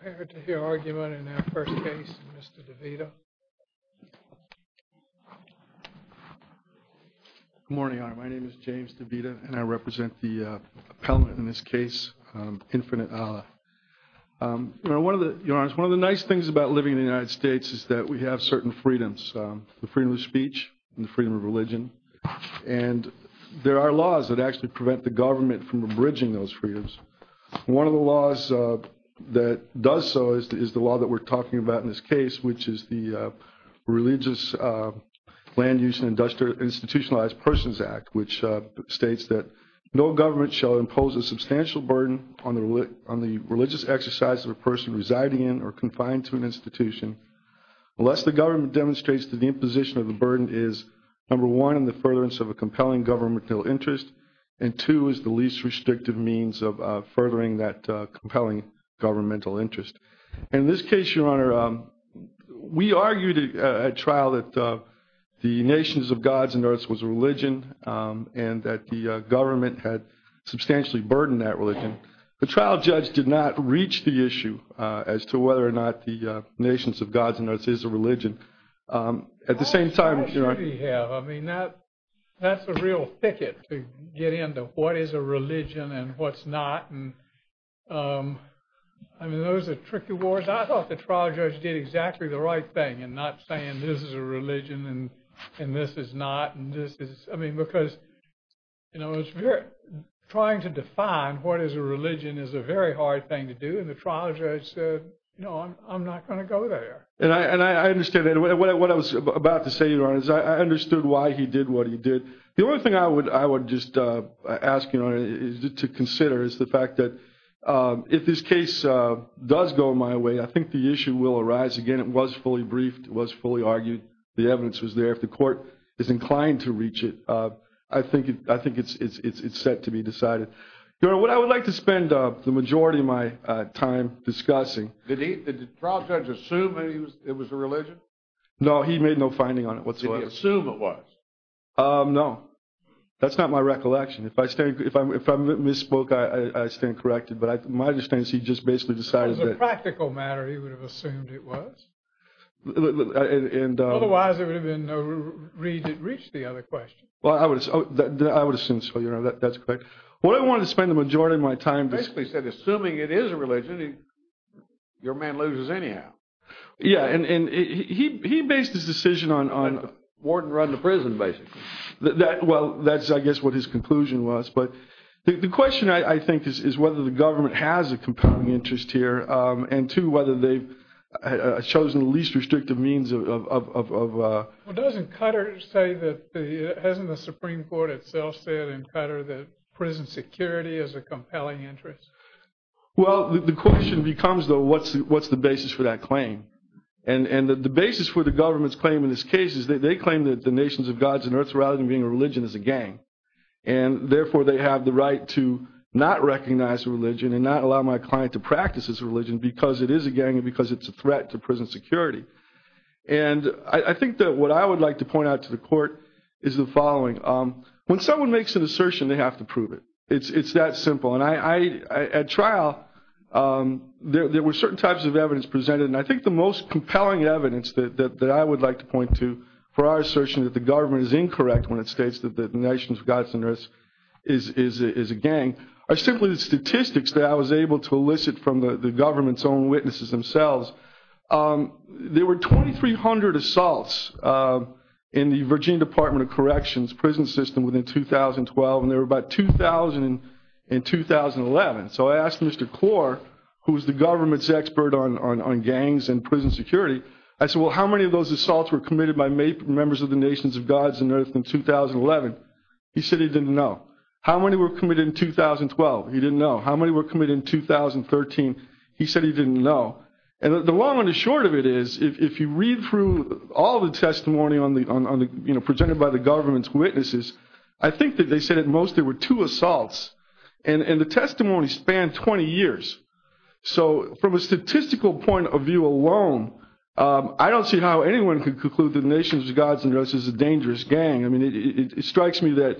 Prepare to hear argument in our first case, Mr. DeVita. Good morning, Your Honor. My name is James DeVita, and I represent the appellant in this case, Infinite Allah. Your Honor, one of the nice things about living in the United States is that we have certain freedoms. The freedom of speech and the freedom of religion. And there are laws that actually prevent the government from abridging those freedoms. One of the laws that does so is the law that we're talking about in this case, which is the Religious Land Use and Institutionalized Persons Act, which states that no government shall impose a substantial burden on the religious exercise of a person residing in or confined to an institution unless the government demonstrates that the imposition of the burden is, number one, in the furtherance of a compelling governmental interest, and two, is the least restrictive means of furthering that compelling governmental interest. And in this case, Your Honor, we argued at trial that the nations of gods and earths was a religion and that the government had substantially burdened that religion. The trial judge did not reach the issue as to whether or not the nations of gods and earths is a religion. At the same time – I mean, that's a real thicket to get into what is a religion and what's not. I mean, those are tricky words. I thought the trial judge did exactly the right thing in not saying this is a religion and this is not. I mean, because trying to define what is a religion is a very hard thing to do, and the trial judge said, no, I'm not going to go there. And I understand that. What I was about to say, Your Honor, is I understood why he did what he did. The only thing I would just ask Your Honor to consider is the fact that if this case does go my way, I think the issue will arise again. It was fully briefed. It was fully argued. The evidence was there. If the court is inclined to reach it, I think it's set to be decided. Your Honor, what I would like to spend the majority of my time discussing – Did the trial judge assume that it was a religion? No, he made no finding on it whatsoever. Did he assume it was? No. That's not my recollection. If I misspoke, I stand corrected. But my understanding is he just basically decided that – As a practical matter, he would have assumed it was. Otherwise, there would have been no reason to reach the other question. Well, I would have assumed so, Your Honor. That's correct. What I wanted to spend the majority of my time discussing – He basically said, assuming it is a religion, your man loses anyhow. Yeah, and he based his decision on – Well, that's, I guess, what his conclusion was. But the question, I think, is whether the government has a compelling interest here and, two, whether they've chosen the least restrictive means of – Well, doesn't Qatar say that – Hasn't the Supreme Court itself said in Qatar that prison security is a compelling interest? Well, the question becomes, though, what's the basis for that claim? And the basis for the government's claim in this case is they claim that the nations of gods and earth rather than being a religion is a gang, and therefore they have the right to not recognize a religion and not allow my client to practice this religion because it is a gang and because it's a threat to prison security. And I think that what I would like to point out to the Court is the following. When someone makes an assertion, they have to prove it. It's that simple. And at trial, there were certain types of evidence presented, and I think the most compelling evidence that I would like to point to for our assertion that the government is incorrect when it states that the nations of gods and earth is a gang are simply the statistics that I was able to elicit from the government's own witnesses themselves. There were 2,300 assaults in the Virginia Department of Corrections prison system within 2012, and there were about 2,000 in 2011. So I asked Mr. Klor, who is the government's expert on gangs and prison security, I said, well, how many of those assaults were committed by members of the nations of gods and earth in 2011? He said he didn't know. How many were committed in 2012? He didn't know. How many were committed in 2013? He said he didn't know. And the long and the short of it is if you read through all the testimony presented by the government's witnesses, I think that they said at most there were two assaults, and the testimony spanned 20 years. So from a statistical point of view alone, I don't see how anyone could conclude that the nations of gods and earth is a dangerous gang. I mean, it strikes me that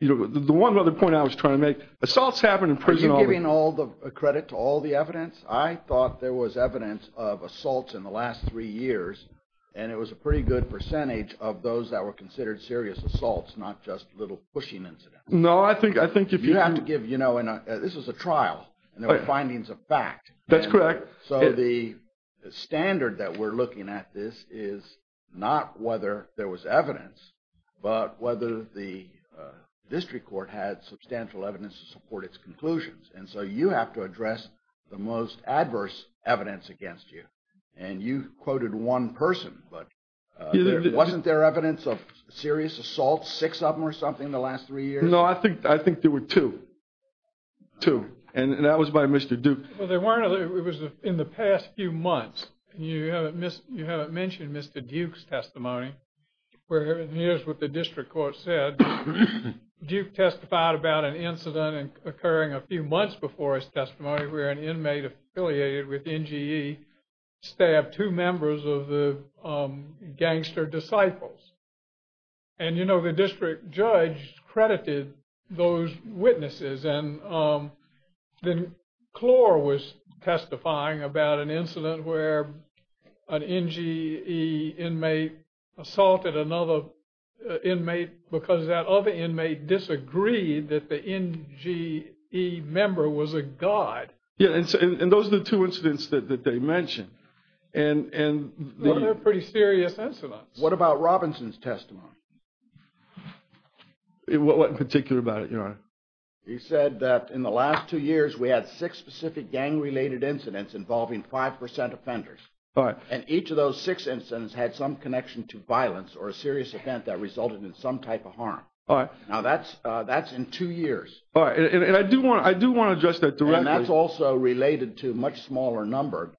the one other point I was trying to make, assaults happen in prison only. Are you giving credit to all the evidence? I thought there was evidence of assaults in the last three years, and it was a pretty good percentage of those that were considered serious assaults, not just little pushing incidents. No, I think if you have to give, you know, this was a trial, and there were findings of fact. That's correct. So the standard that we're looking at this is not whether there was evidence, but whether the district court had substantial evidence to support its conclusions. And so you have to address the most adverse evidence against you. And you quoted one person, but wasn't there evidence of serious assaults, six of them or something, in the last three years? No, I think there were two. Two. And that was by Mr. Duke. It was in the past few months, and you haven't mentioned Mr. Duke's testimony. Here's what the district court said. Duke testified about an incident occurring a few months before his testimony where an inmate affiliated with NGE stabbed two members of the Gangster Disciples. And, you know, the district judge credited those witnesses. And then Clore was testifying about an incident where an NGE inmate assaulted another inmate because that other inmate disagreed that the NGE member was a god. Yeah, and those are the two incidents that they mentioned. And they're pretty serious incidents. What about Robinson's testimony? What in particular about it, Your Honor? He said that in the last two years we had six specific gang-related incidents involving 5% offenders. All right. And each of those six incidents had some connection to violence or a serious event that resulted in some type of harm. All right. Now, that's in two years. All right, and I do want to address that directly. And that's also related to a much smaller number.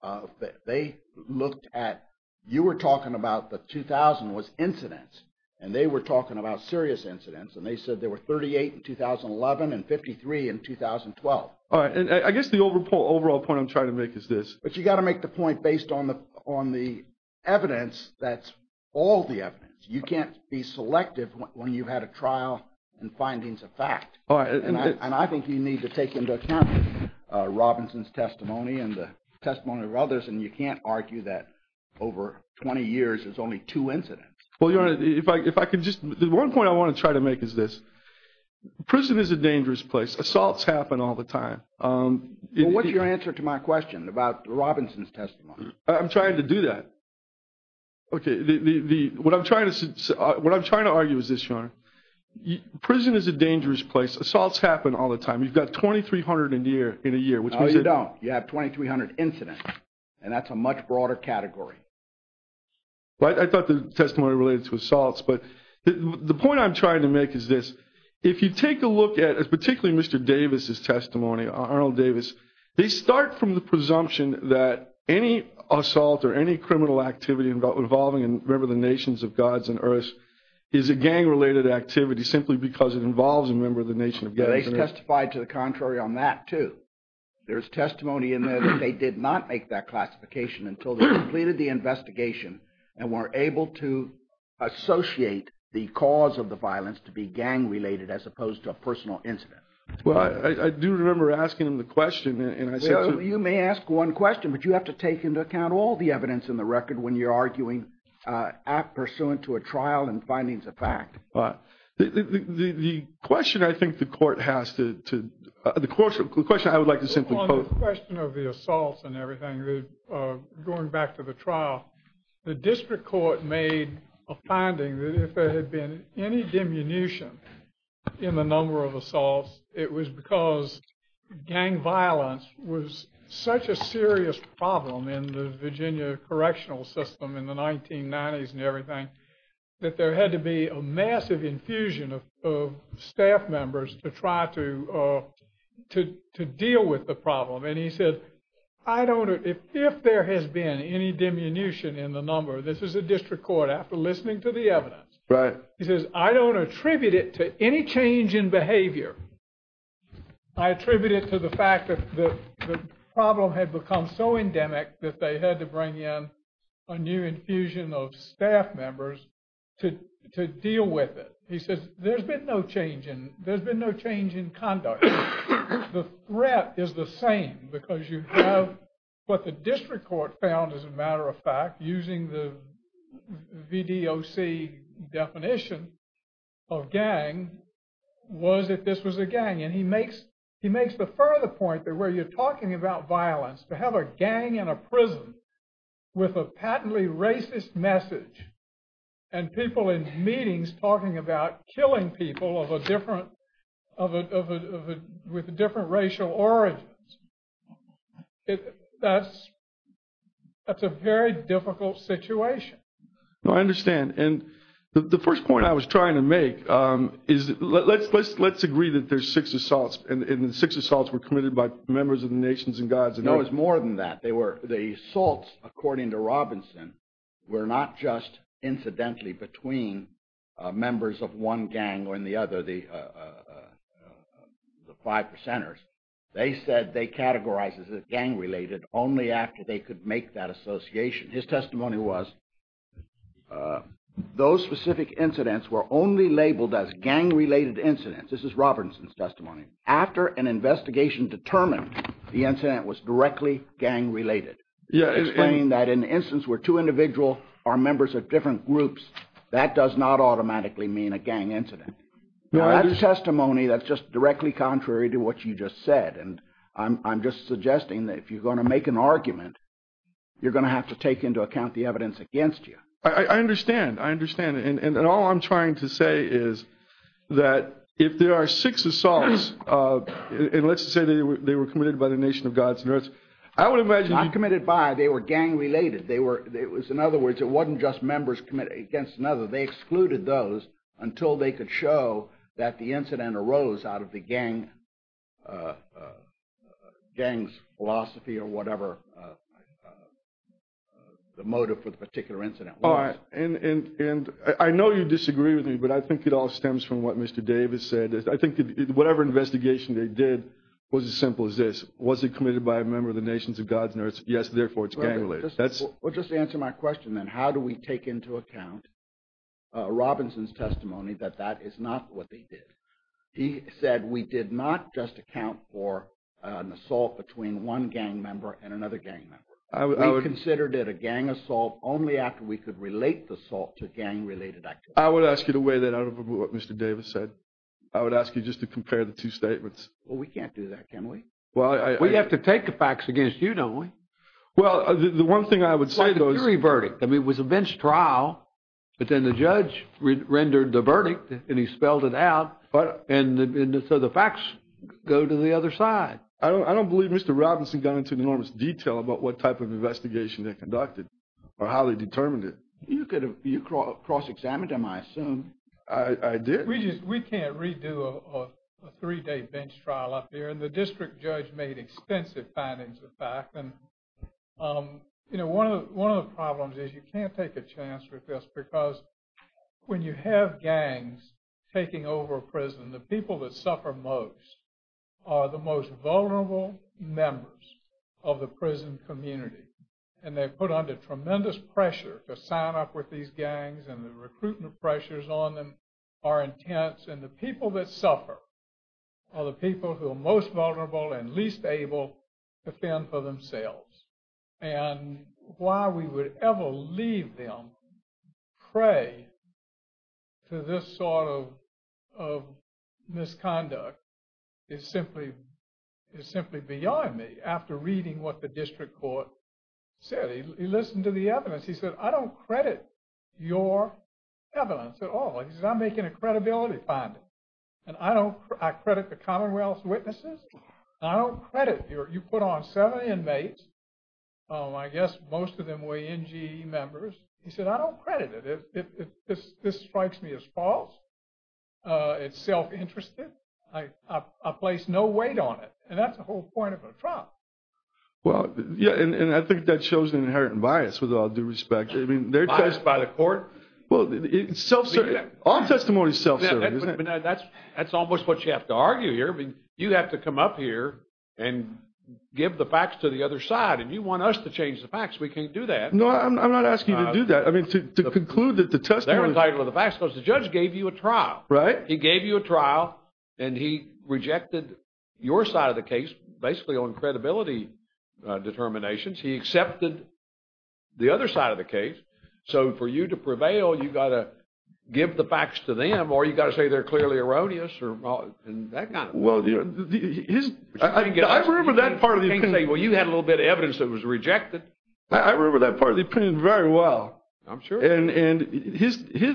They looked at – you were talking about the 2,000 was incidents. And they were talking about serious incidents. And they said there were 38 in 2011 and 53 in 2012. All right, and I guess the overall point I'm trying to make is this. But you've got to make the point based on the evidence that's all the evidence. You can't be selective when you've had a trial and findings of fact. And I think you need to take into account Robinson's testimony and the testimony of others. And you can't argue that over 20 years there's only two incidents. Well, Your Honor, if I could just – the one point I want to try to make is this. Prison is a dangerous place. Assaults happen all the time. Well, what's your answer to my question about Robinson's testimony? I'm trying to do that. Okay, what I'm trying to argue is this, Your Honor. Prison is a dangerous place. Assaults happen all the time. You've got 2,300 in a year, which means you don't. No, you don't. You have 2,300 incidents. And that's a much broader category. Well, I thought the testimony related to assaults. But the point I'm trying to make is this. If you take a look at particularly Mr. Davis' testimony, Arnold Davis, they start from the presumption that any assault or any criminal activity involving, remember, the nations of gods and earths, is a gang-related activity simply because it involves a member of the nation of gods and earths. They testified to the contrary on that, too. There's testimony in there that they did not make that classification until they completed the investigation and were able to associate the cause of the violence to be gang-related as opposed to a personal incident. Well, I do remember asking him the question. Well, you may ask one question, but you have to take into account all the evidence in the record when you're arguing pursuant to a trial and findings of fact. The question I would like to simply pose. On the question of the assaults and everything, going back to the trial, the district court made a finding that if there had been any diminution in the number of assaults, it was because gang violence was such a serious problem in the Virginia correctional system in the 1990s and everything that there had to be a massive infusion of staff members to try to deal with the problem. And he said, if there has been any diminution in the number, this is the district court after listening to the evidence. Right. He says, I don't attribute it to any change in behavior. I attribute it to the fact that the problem had become so endemic that they had to bring in a new infusion of staff members to deal with it. He says, there's been no change in conduct. The threat is the same because you have what the district court found, as a matter of fact, using the VDOC definition of gang, was that this was a gang. And he makes the further point that where you're talking about violence, to have a gang in a prison with a patently racist message and people in meetings talking about killing people with different racial origins, that's a very difficult situation. No, I understand. And the first point I was trying to make is let's agree that there's six assaults and the six assaults were committed by members of the nations and gods. No, it's more than that. The assaults, according to Robinson, were not just incidentally between members of one gang or in the other, the five percenters. They said they categorized as gang-related only after they could make that association. His testimony was those specific incidents were only labeled as gang-related incidents. This is Robinson's testimony. After an investigation determined the incident was directly gang-related, explaining that in the instance where two individuals are members of different groups, that does not automatically mean a gang incident. No, that's testimony that's just directly contrary to what you just said. And I'm just suggesting that if you're going to make an argument, you're going to have to take into account the evidence against you. I understand. I understand. And all I'm trying to say is that if there are six assaults, and let's say they were committed by the nation of gods, I would imagine you'd- Not committed by. They were gang-related. In other words, it wasn't just members committed against another. They excluded those until they could show that the incident arose out of the gang's philosophy or whatever the motive for the particular incident was. And I know you disagree with me, but I think it all stems from what Mr. Davis said. I think whatever investigation they did was as simple as this. Was it committed by a member of the nations of gods? Yes, therefore, it's gang-related. We'll just answer my question then. How do we take into account Robinson's testimony that that is not what they did? He said we did not just account for an assault between one gang member and another gang member. We considered it a gang assault only after we could relate the assault to gang-related activity. I would ask you to weigh that out of what Mr. Davis said. I would ask you just to compare the two statements. Well, we can't do that, can we? We have to take the facts against you, don't we? Well, the one thing I would say though is... It's like a jury verdict. I mean, it was a bench trial, but then the judge rendered the verdict and he spelled it out. And so the facts go to the other side. I don't believe Mr. Robinson got into enormous detail about what type of investigation they conducted or how they determined it. You cross-examined them, I assume. I did. We can't redo a three-day bench trial up here. And the district judge made extensive findings of fact. And one of the problems is you can't take a chance with this because when you have gangs taking over a prison, the people that suffer most are the most vulnerable members of the prison community. And they're put under tremendous pressure to sign up with these gangs and the recruitment pressures on them are intense. And the people that suffer are the people who are most vulnerable and least able to fend for themselves. And why we would ever leave them prey to this sort of misconduct is simply beyond me. After reading what the district court said, he listened to the evidence. He said, I don't credit your evidence at all. He said, I'm making a credibility finding. And I credit the Commonwealth's witnesses. I don't credit your – you put on seven inmates, I guess most of them were NGE members. He said, I don't credit it. This strikes me as false. It's self-interested. I place no weight on it. And that's the whole point of a trial. Well, yeah, and I think that shows an inherent bias, with all due respect. Bias by the court? Well, it's self-serving. All testimony is self-serving, isn't it? That's almost what you have to argue here. You have to come up here and give the facts to the other side. And you want us to change the facts. We can't do that. No, I'm not asking you to do that. I mean, to conclude that the testimony – They're entitled to the facts because the judge gave you a trial. Right. He gave you a trial, and he rejected your side of the case, basically on credibility determinations. He accepted the other side of the case. So for you to prevail, you've got to give the facts to them, or you've got to say they're clearly erroneous and that kind of thing. Well, I remember that part of the opinion. Well, you had a little bit of evidence that was rejected. I remember that part of the opinion very well. I'm sure you did. And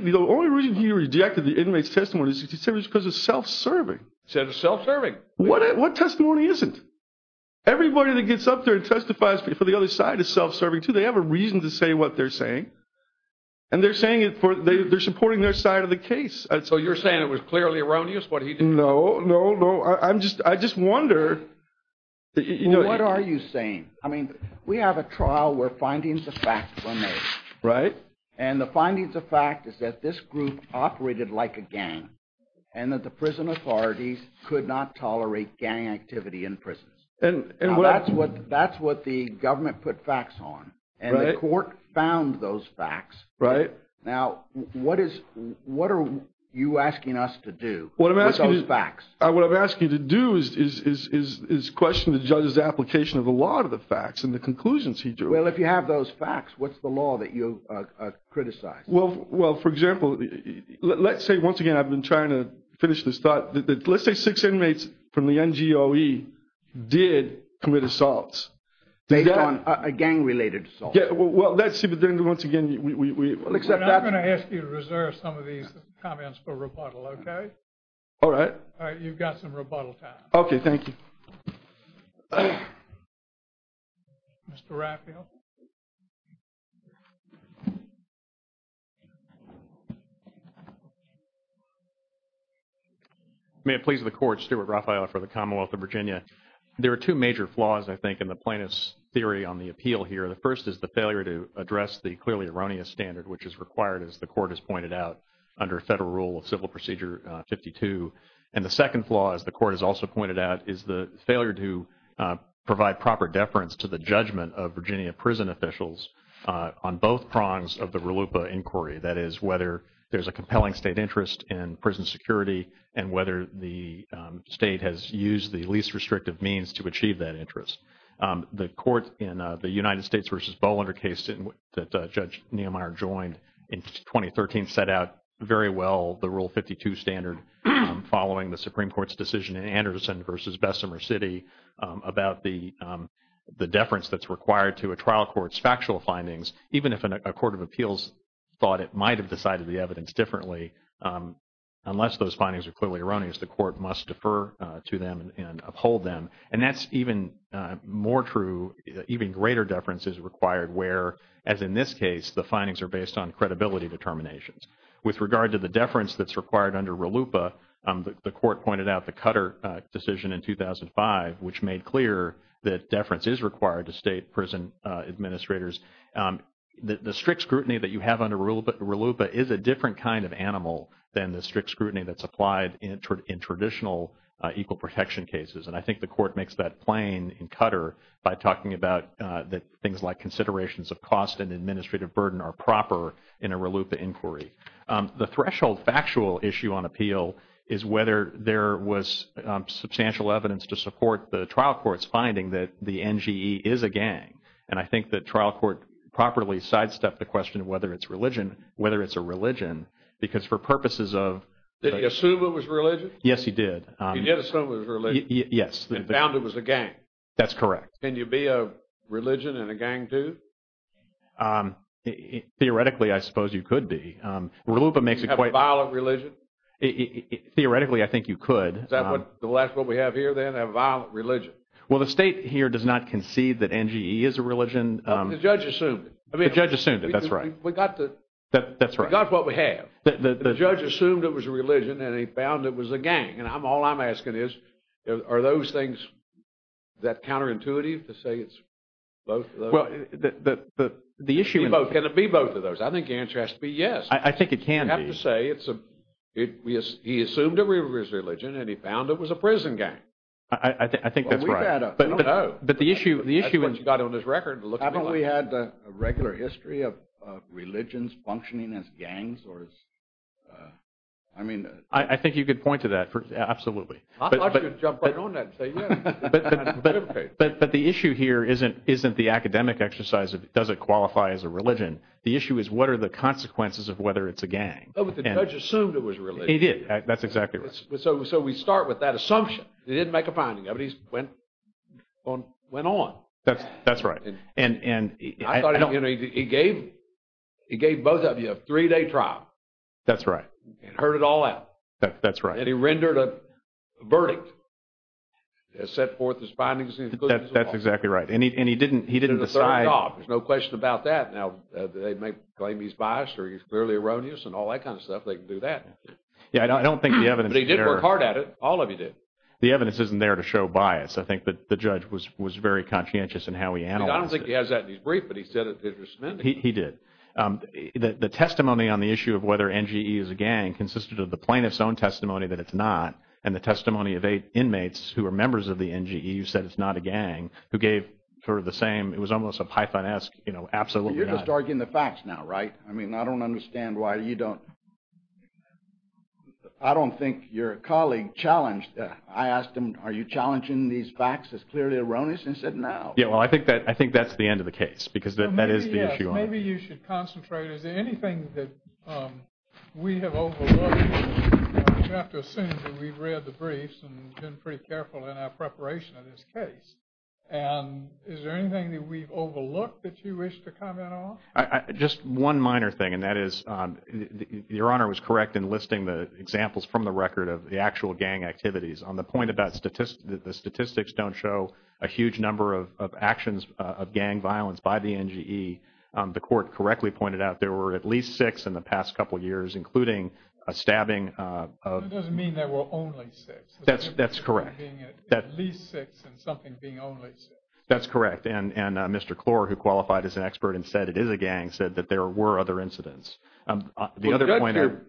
the only reason he rejected the inmate's testimony is because it's self-serving. It's self-serving. What testimony isn't? Everybody that gets up there and testifies for the other side is self-serving, too. They have a reason to say what they're saying. And they're supporting their side of the case. So you're saying it was clearly erroneous what he did? No, no, no. I just wondered. What are you saying? I mean, we have a trial where findings of fact were made. Right. And the findings of fact is that this group operated like a gang and that the prison authorities could not tolerate gang activity in prisons. Now, that's what the government put facts on. And the court found those facts. Right. Now, what are you asking us to do with those facts? What I'm asking you to do is question the judge's application of the law to the facts and the conclusions he drew. Well, if you have those facts, what's the law that you'll criticize? Well, for example, let's say, once again, I've been trying to finish this thought. Let's say six inmates from the NGOE did commit assaults. Based on a gang-related assault. Well, let's see. But then, once again, we'll accept that. We're not going to ask you to reserve some of these comments for rebuttal, okay? All right. All right, you've got some rebuttal time. Okay, thank you. Mr. Raphael. May it please the Court, Stuart Raphael for the Commonwealth of Virginia. There are two major flaws, I think, in the plaintiff's theory on the appeal here. The first is the failure to address the clearly erroneous standard, which is required, as the Court has pointed out, under Federal Rule of Civil Procedure 52. And the second flaw, as the Court has also pointed out, is the failure to provide proper deference to the judgment of Virginia prison officials on both prongs of the RLUIPA inquiry. That is, whether there's a compelling state interest in prison security and whether the state has used the least restrictive means to achieve that interest. The court in the United States v. Bolander case that Judge Neumeier joined in 2013 I think set out very well the Rule 52 standard following the Supreme Court's decision in Anderson v. Bessemer City about the deference that's required to a trial court's factual findings, even if a court of appeals thought it might have decided the evidence differently, unless those findings are clearly erroneous, the court must defer to them and uphold them. And that's even more true, even greater deference is required where, as in this case, the findings are based on credibility determinations. With regard to the deference that's required under RLUIPA, the court pointed out the Cutter decision in 2005, which made clear that deference is required to state prison administrators. The strict scrutiny that you have under RLUIPA is a different kind of animal than the strict scrutiny that's applied in traditional equal protection cases. And I think the court makes that plain in Cutter by talking about things like considerations of cost and administrative burden are proper in a RLUIPA inquiry. The threshold factual issue on appeal is whether there was substantial evidence to support the trial court's finding that the NGE is a gang. And I think the trial court properly sidestepped the question of whether it's a religion because for purposes of Did he assume it was religion? Yes, he did. He did assume it was religion. Yes. And found it was a gang. That's correct. Can you be a religion and a gang too? Theoretically, I suppose you could be. Do you have a violent religion? Theoretically, I think you could. Is that what we have here then, a violent religion? Well, the state here does not concede that NGE is a religion. The judge assumed it. The judge assumed it. That's right. We got what we have. The judge assumed it was a religion and he found it was a gang. And all I'm asking is, are those things that counterintuitive to say it's both of those? Well, the issue… Can it be both of those? I think the answer has to be yes. I think it can be. You have to say he assumed it was religion and he found it was a prison gang. I think that's right. I don't know. That's what you got on this record. Haven't we had a regular history of religions functioning as gangs? I think you could point to that. Absolutely. I should jump right on that and say yes. But the issue here isn't the academic exercise of does it qualify as a religion. The issue is what are the consequences of whether it's a gang. But the judge assumed it was a religion. He did. That's exactly right. So we start with that assumption. He didn't make a finding of it. He went on. That's right. I thought he gave both of you a three-day trial. That's right. And heard it all out. That's right. And he rendered a verdict and set forth his findings and conclusions. That's exactly right. And he didn't decide… There's no question about that. Now, they may claim he's biased or he's clearly erroneous and all that kind of stuff. They can do that. Yeah, I don't think the evidence is there. But he did work hard at it. All of you did. The evidence isn't there to show bias. I think the judge was very conscientious in how he analyzed it. I don't think he has that in his brief, but he said it was… He did. The testimony on the issue of whether NGE is a gang consisted of the plaintiff's own testimony that it's not and the testimony of eight inmates who were members of the NGE who said it's not a gang, who gave sort of the same… It was almost a Python-esque, you know, absolutely not… You're just arguing the facts now, right? I mean, I don't understand why you don't… I don't think your colleague challenged that. I asked him, are you challenging these facts as clearly erroneous? And he said, no. Yeah, well, I think that's the end of the case because that is the issue. Maybe you should concentrate. Is there anything that we have overlooked? You have to assume that we've read the briefs and been pretty careful in our preparation of this case. And is there anything that we've overlooked that you wish to comment on? Just one minor thing, and that is your Honor was correct in listing the examples from the record of the actual gang activities. On the point about the statistics don't show a huge number of actions of gang violence by the NGE, the Court correctly pointed out there were at least six in the past couple years, including a stabbing of… That doesn't mean there were only six. That's correct. At least six and something being only six. That's correct. And Mr. Clore, who qualified as an expert and said it is a gang, said that there were other incidents. Well, the judge here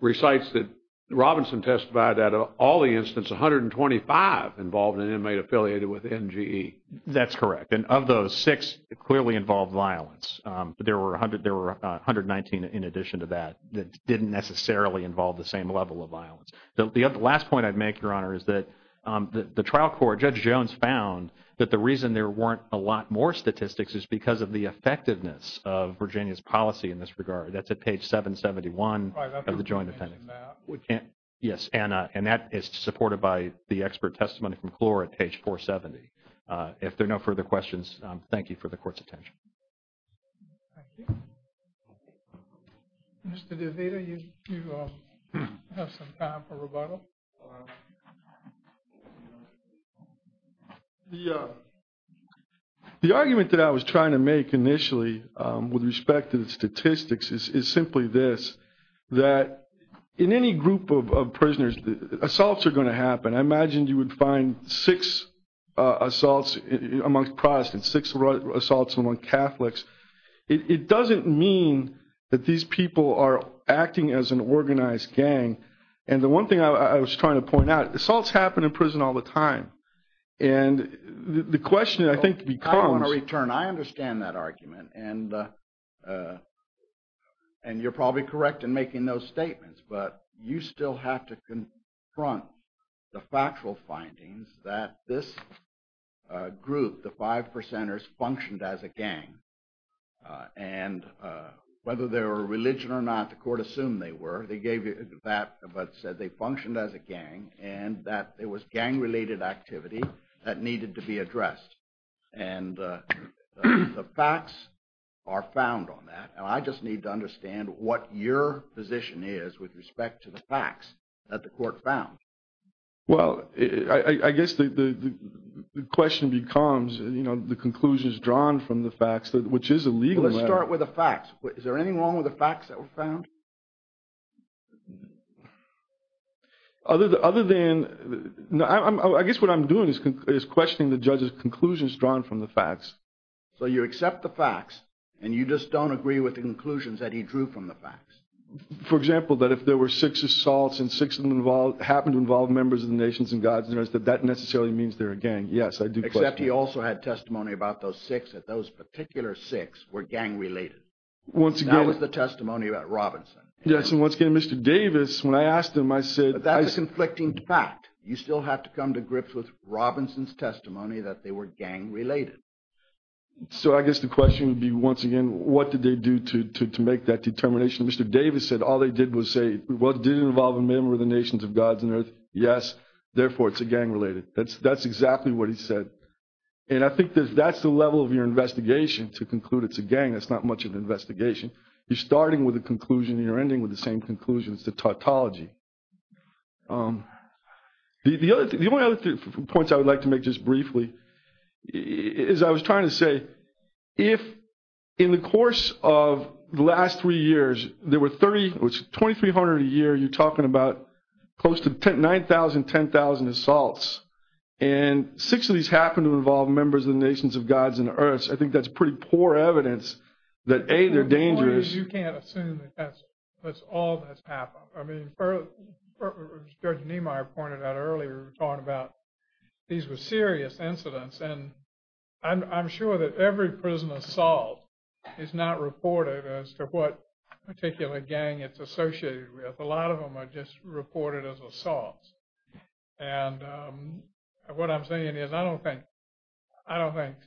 recites that Robinson testified that of all the incidents, 125 involved an inmate affiliated with NGE. That's correct. And of those six, it clearly involved violence. There were 119 in addition to that that didn't necessarily involve the same level of violence. The last point I'd make, Your Honor, is that the trial court, Judge Jones found that the reason there weren't a lot more statistics is because of the effectiveness of Virginia's policy in this regard. That's at page 771 of the joint appendix. Yes, and that is supported by the expert testimony from Clore at page 470. If there are no further questions, thank you for the Court's attention. Thank you. Mr. DeVita, you have some time for rebuttal. The argument that I was trying to make initially with respect to the statistics is simply this, that in any group of prisoners, assaults are going to happen. I imagine you would find six assaults among Protestants, six assaults among Catholics. It doesn't mean that these people are acting as an organized gang. And the one thing I was trying to point out, assaults happen in prison all the time. And the question, I think, becomes… I don't want to return. I understand that argument, and you're probably correct in making those statements. But you still have to confront the factual findings that this group, the five percenters, functioned as a gang. And whether they were religion or not, the Court assumed they were. They gave you that, but said they functioned as a gang and that it was gang-related activity that needed to be addressed. And the facts are found on that. And I just need to understand what your position is with respect to the facts that the Court found. Well, I guess the question becomes, you know, the conclusions drawn from the facts, which is a legal matter. Well, let's start with the facts. Is there anything wrong with the facts that were found? Other than… I guess what I'm doing is questioning the judge's conclusions drawn from the facts. So you accept the facts, and you just don't agree with the conclusions that he drew from the facts. For example, that if there were six assaults and six of them happened to involve members of the nations and gods, that that necessarily means they're a gang. Yes, I do. Except he also had testimony about those six, that those particular six were gang-related. Once again… That was the testimony about Robinson. Yes, and once again, Mr. Davis, when I asked him, I said… But that's a conflicting fact. You still have to come to grips with Robinson's testimony that they were gang-related. So I guess the question would be, once again, what did they do to make that determination? Mr. Davis said all they did was say, well, did it involve a member of the nations of gods and earth? Yes. Therefore, it's a gang-related. That's exactly what he said. And I think that that's the level of your investigation to conclude it's a gang. That's not much of an investigation. You're starting with a conclusion, and you're ending with the same conclusion. It's a tautology. The only other points I would like to make just briefly is I was trying to say, if in the course of the last three years there were 2,300 a year, you're talking about close to 9,000, 10,000 assaults, and six of these happened to involve members of the nations of gods and earth, I think that's pretty poor evidence that, A, they're dangerous. You can't assume that's all that's happened. I mean, Judge Niemeyer pointed out earlier, talking about these were serious incidents, and I'm sure that every prison assault is not reported as to what particular gang it's associated with. A lot of them are just reported as assaults. And what I'm saying is I don't think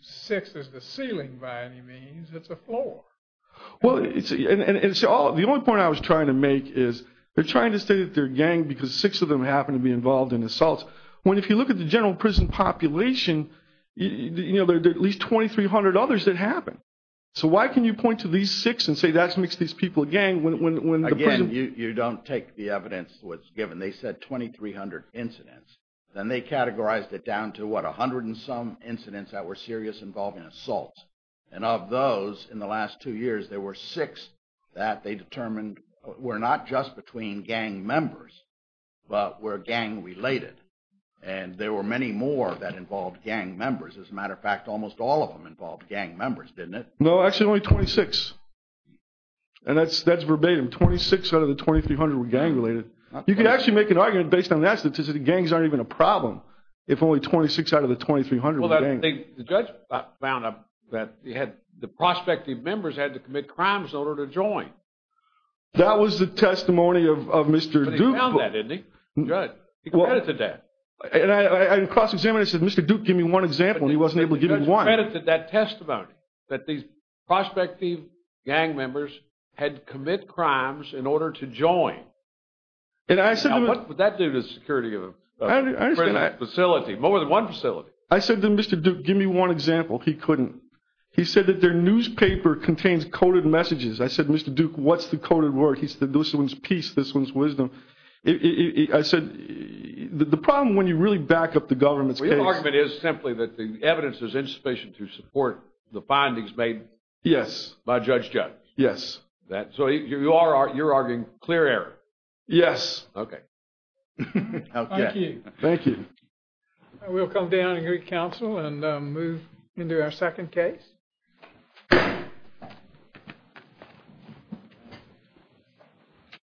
six is the ceiling by any means. It's a floor. Well, and the only point I was trying to make is they're trying to state that they're a gang because six of them happen to be involved in assaults. When if you look at the general prison population, there are at least 2,300 others that happen. So why can you point to these six and say that makes these people a gang when the prison? Again, you don't take the evidence to what's given. They said 2,300 incidents. Then they categorized it down to, what, a hundred and some incidents that were serious involving assaults. And of those, in the last two years, there were six that they determined were not just between gang members, but were gang related. And there were many more that involved gang members. As a matter of fact, almost all of them involved gang members, didn't it? No, actually only 26. And that's verbatim. Twenty-six out of the 2,300 were gang related. You can actually make an argument based on that statistic. Gangs aren't even a problem if only 26 out of the 2,300 were gang. Well, the judge found that the prospective members had to commit crimes in order to join. That was the testimony of Mr. Duke. He found that, didn't he? The judge. He credited that. And I cross-examined it and said, Mr. Duke, give me one example. And he wasn't able to give me one. The judge credited that testimony, that these prospective gang members had to commit crimes in order to join. And I said to him. Now, what would that do to the security of a facility, more than one facility? I said to Mr. Duke, give me one example. He couldn't. He said that their newspaper contains coded messages. I said, Mr. Duke, what's the coded word? He said, this one's peace, this one's wisdom. I said, the problem when you really back up the government's case. Well, your argument is simply that the evidence is insufficient to support the findings made by Judge Judd. Yes. So you're arguing clear error. Yes. Okay. Okay. Thank you. Thank you. We'll come down and greet counsel and move into our second case.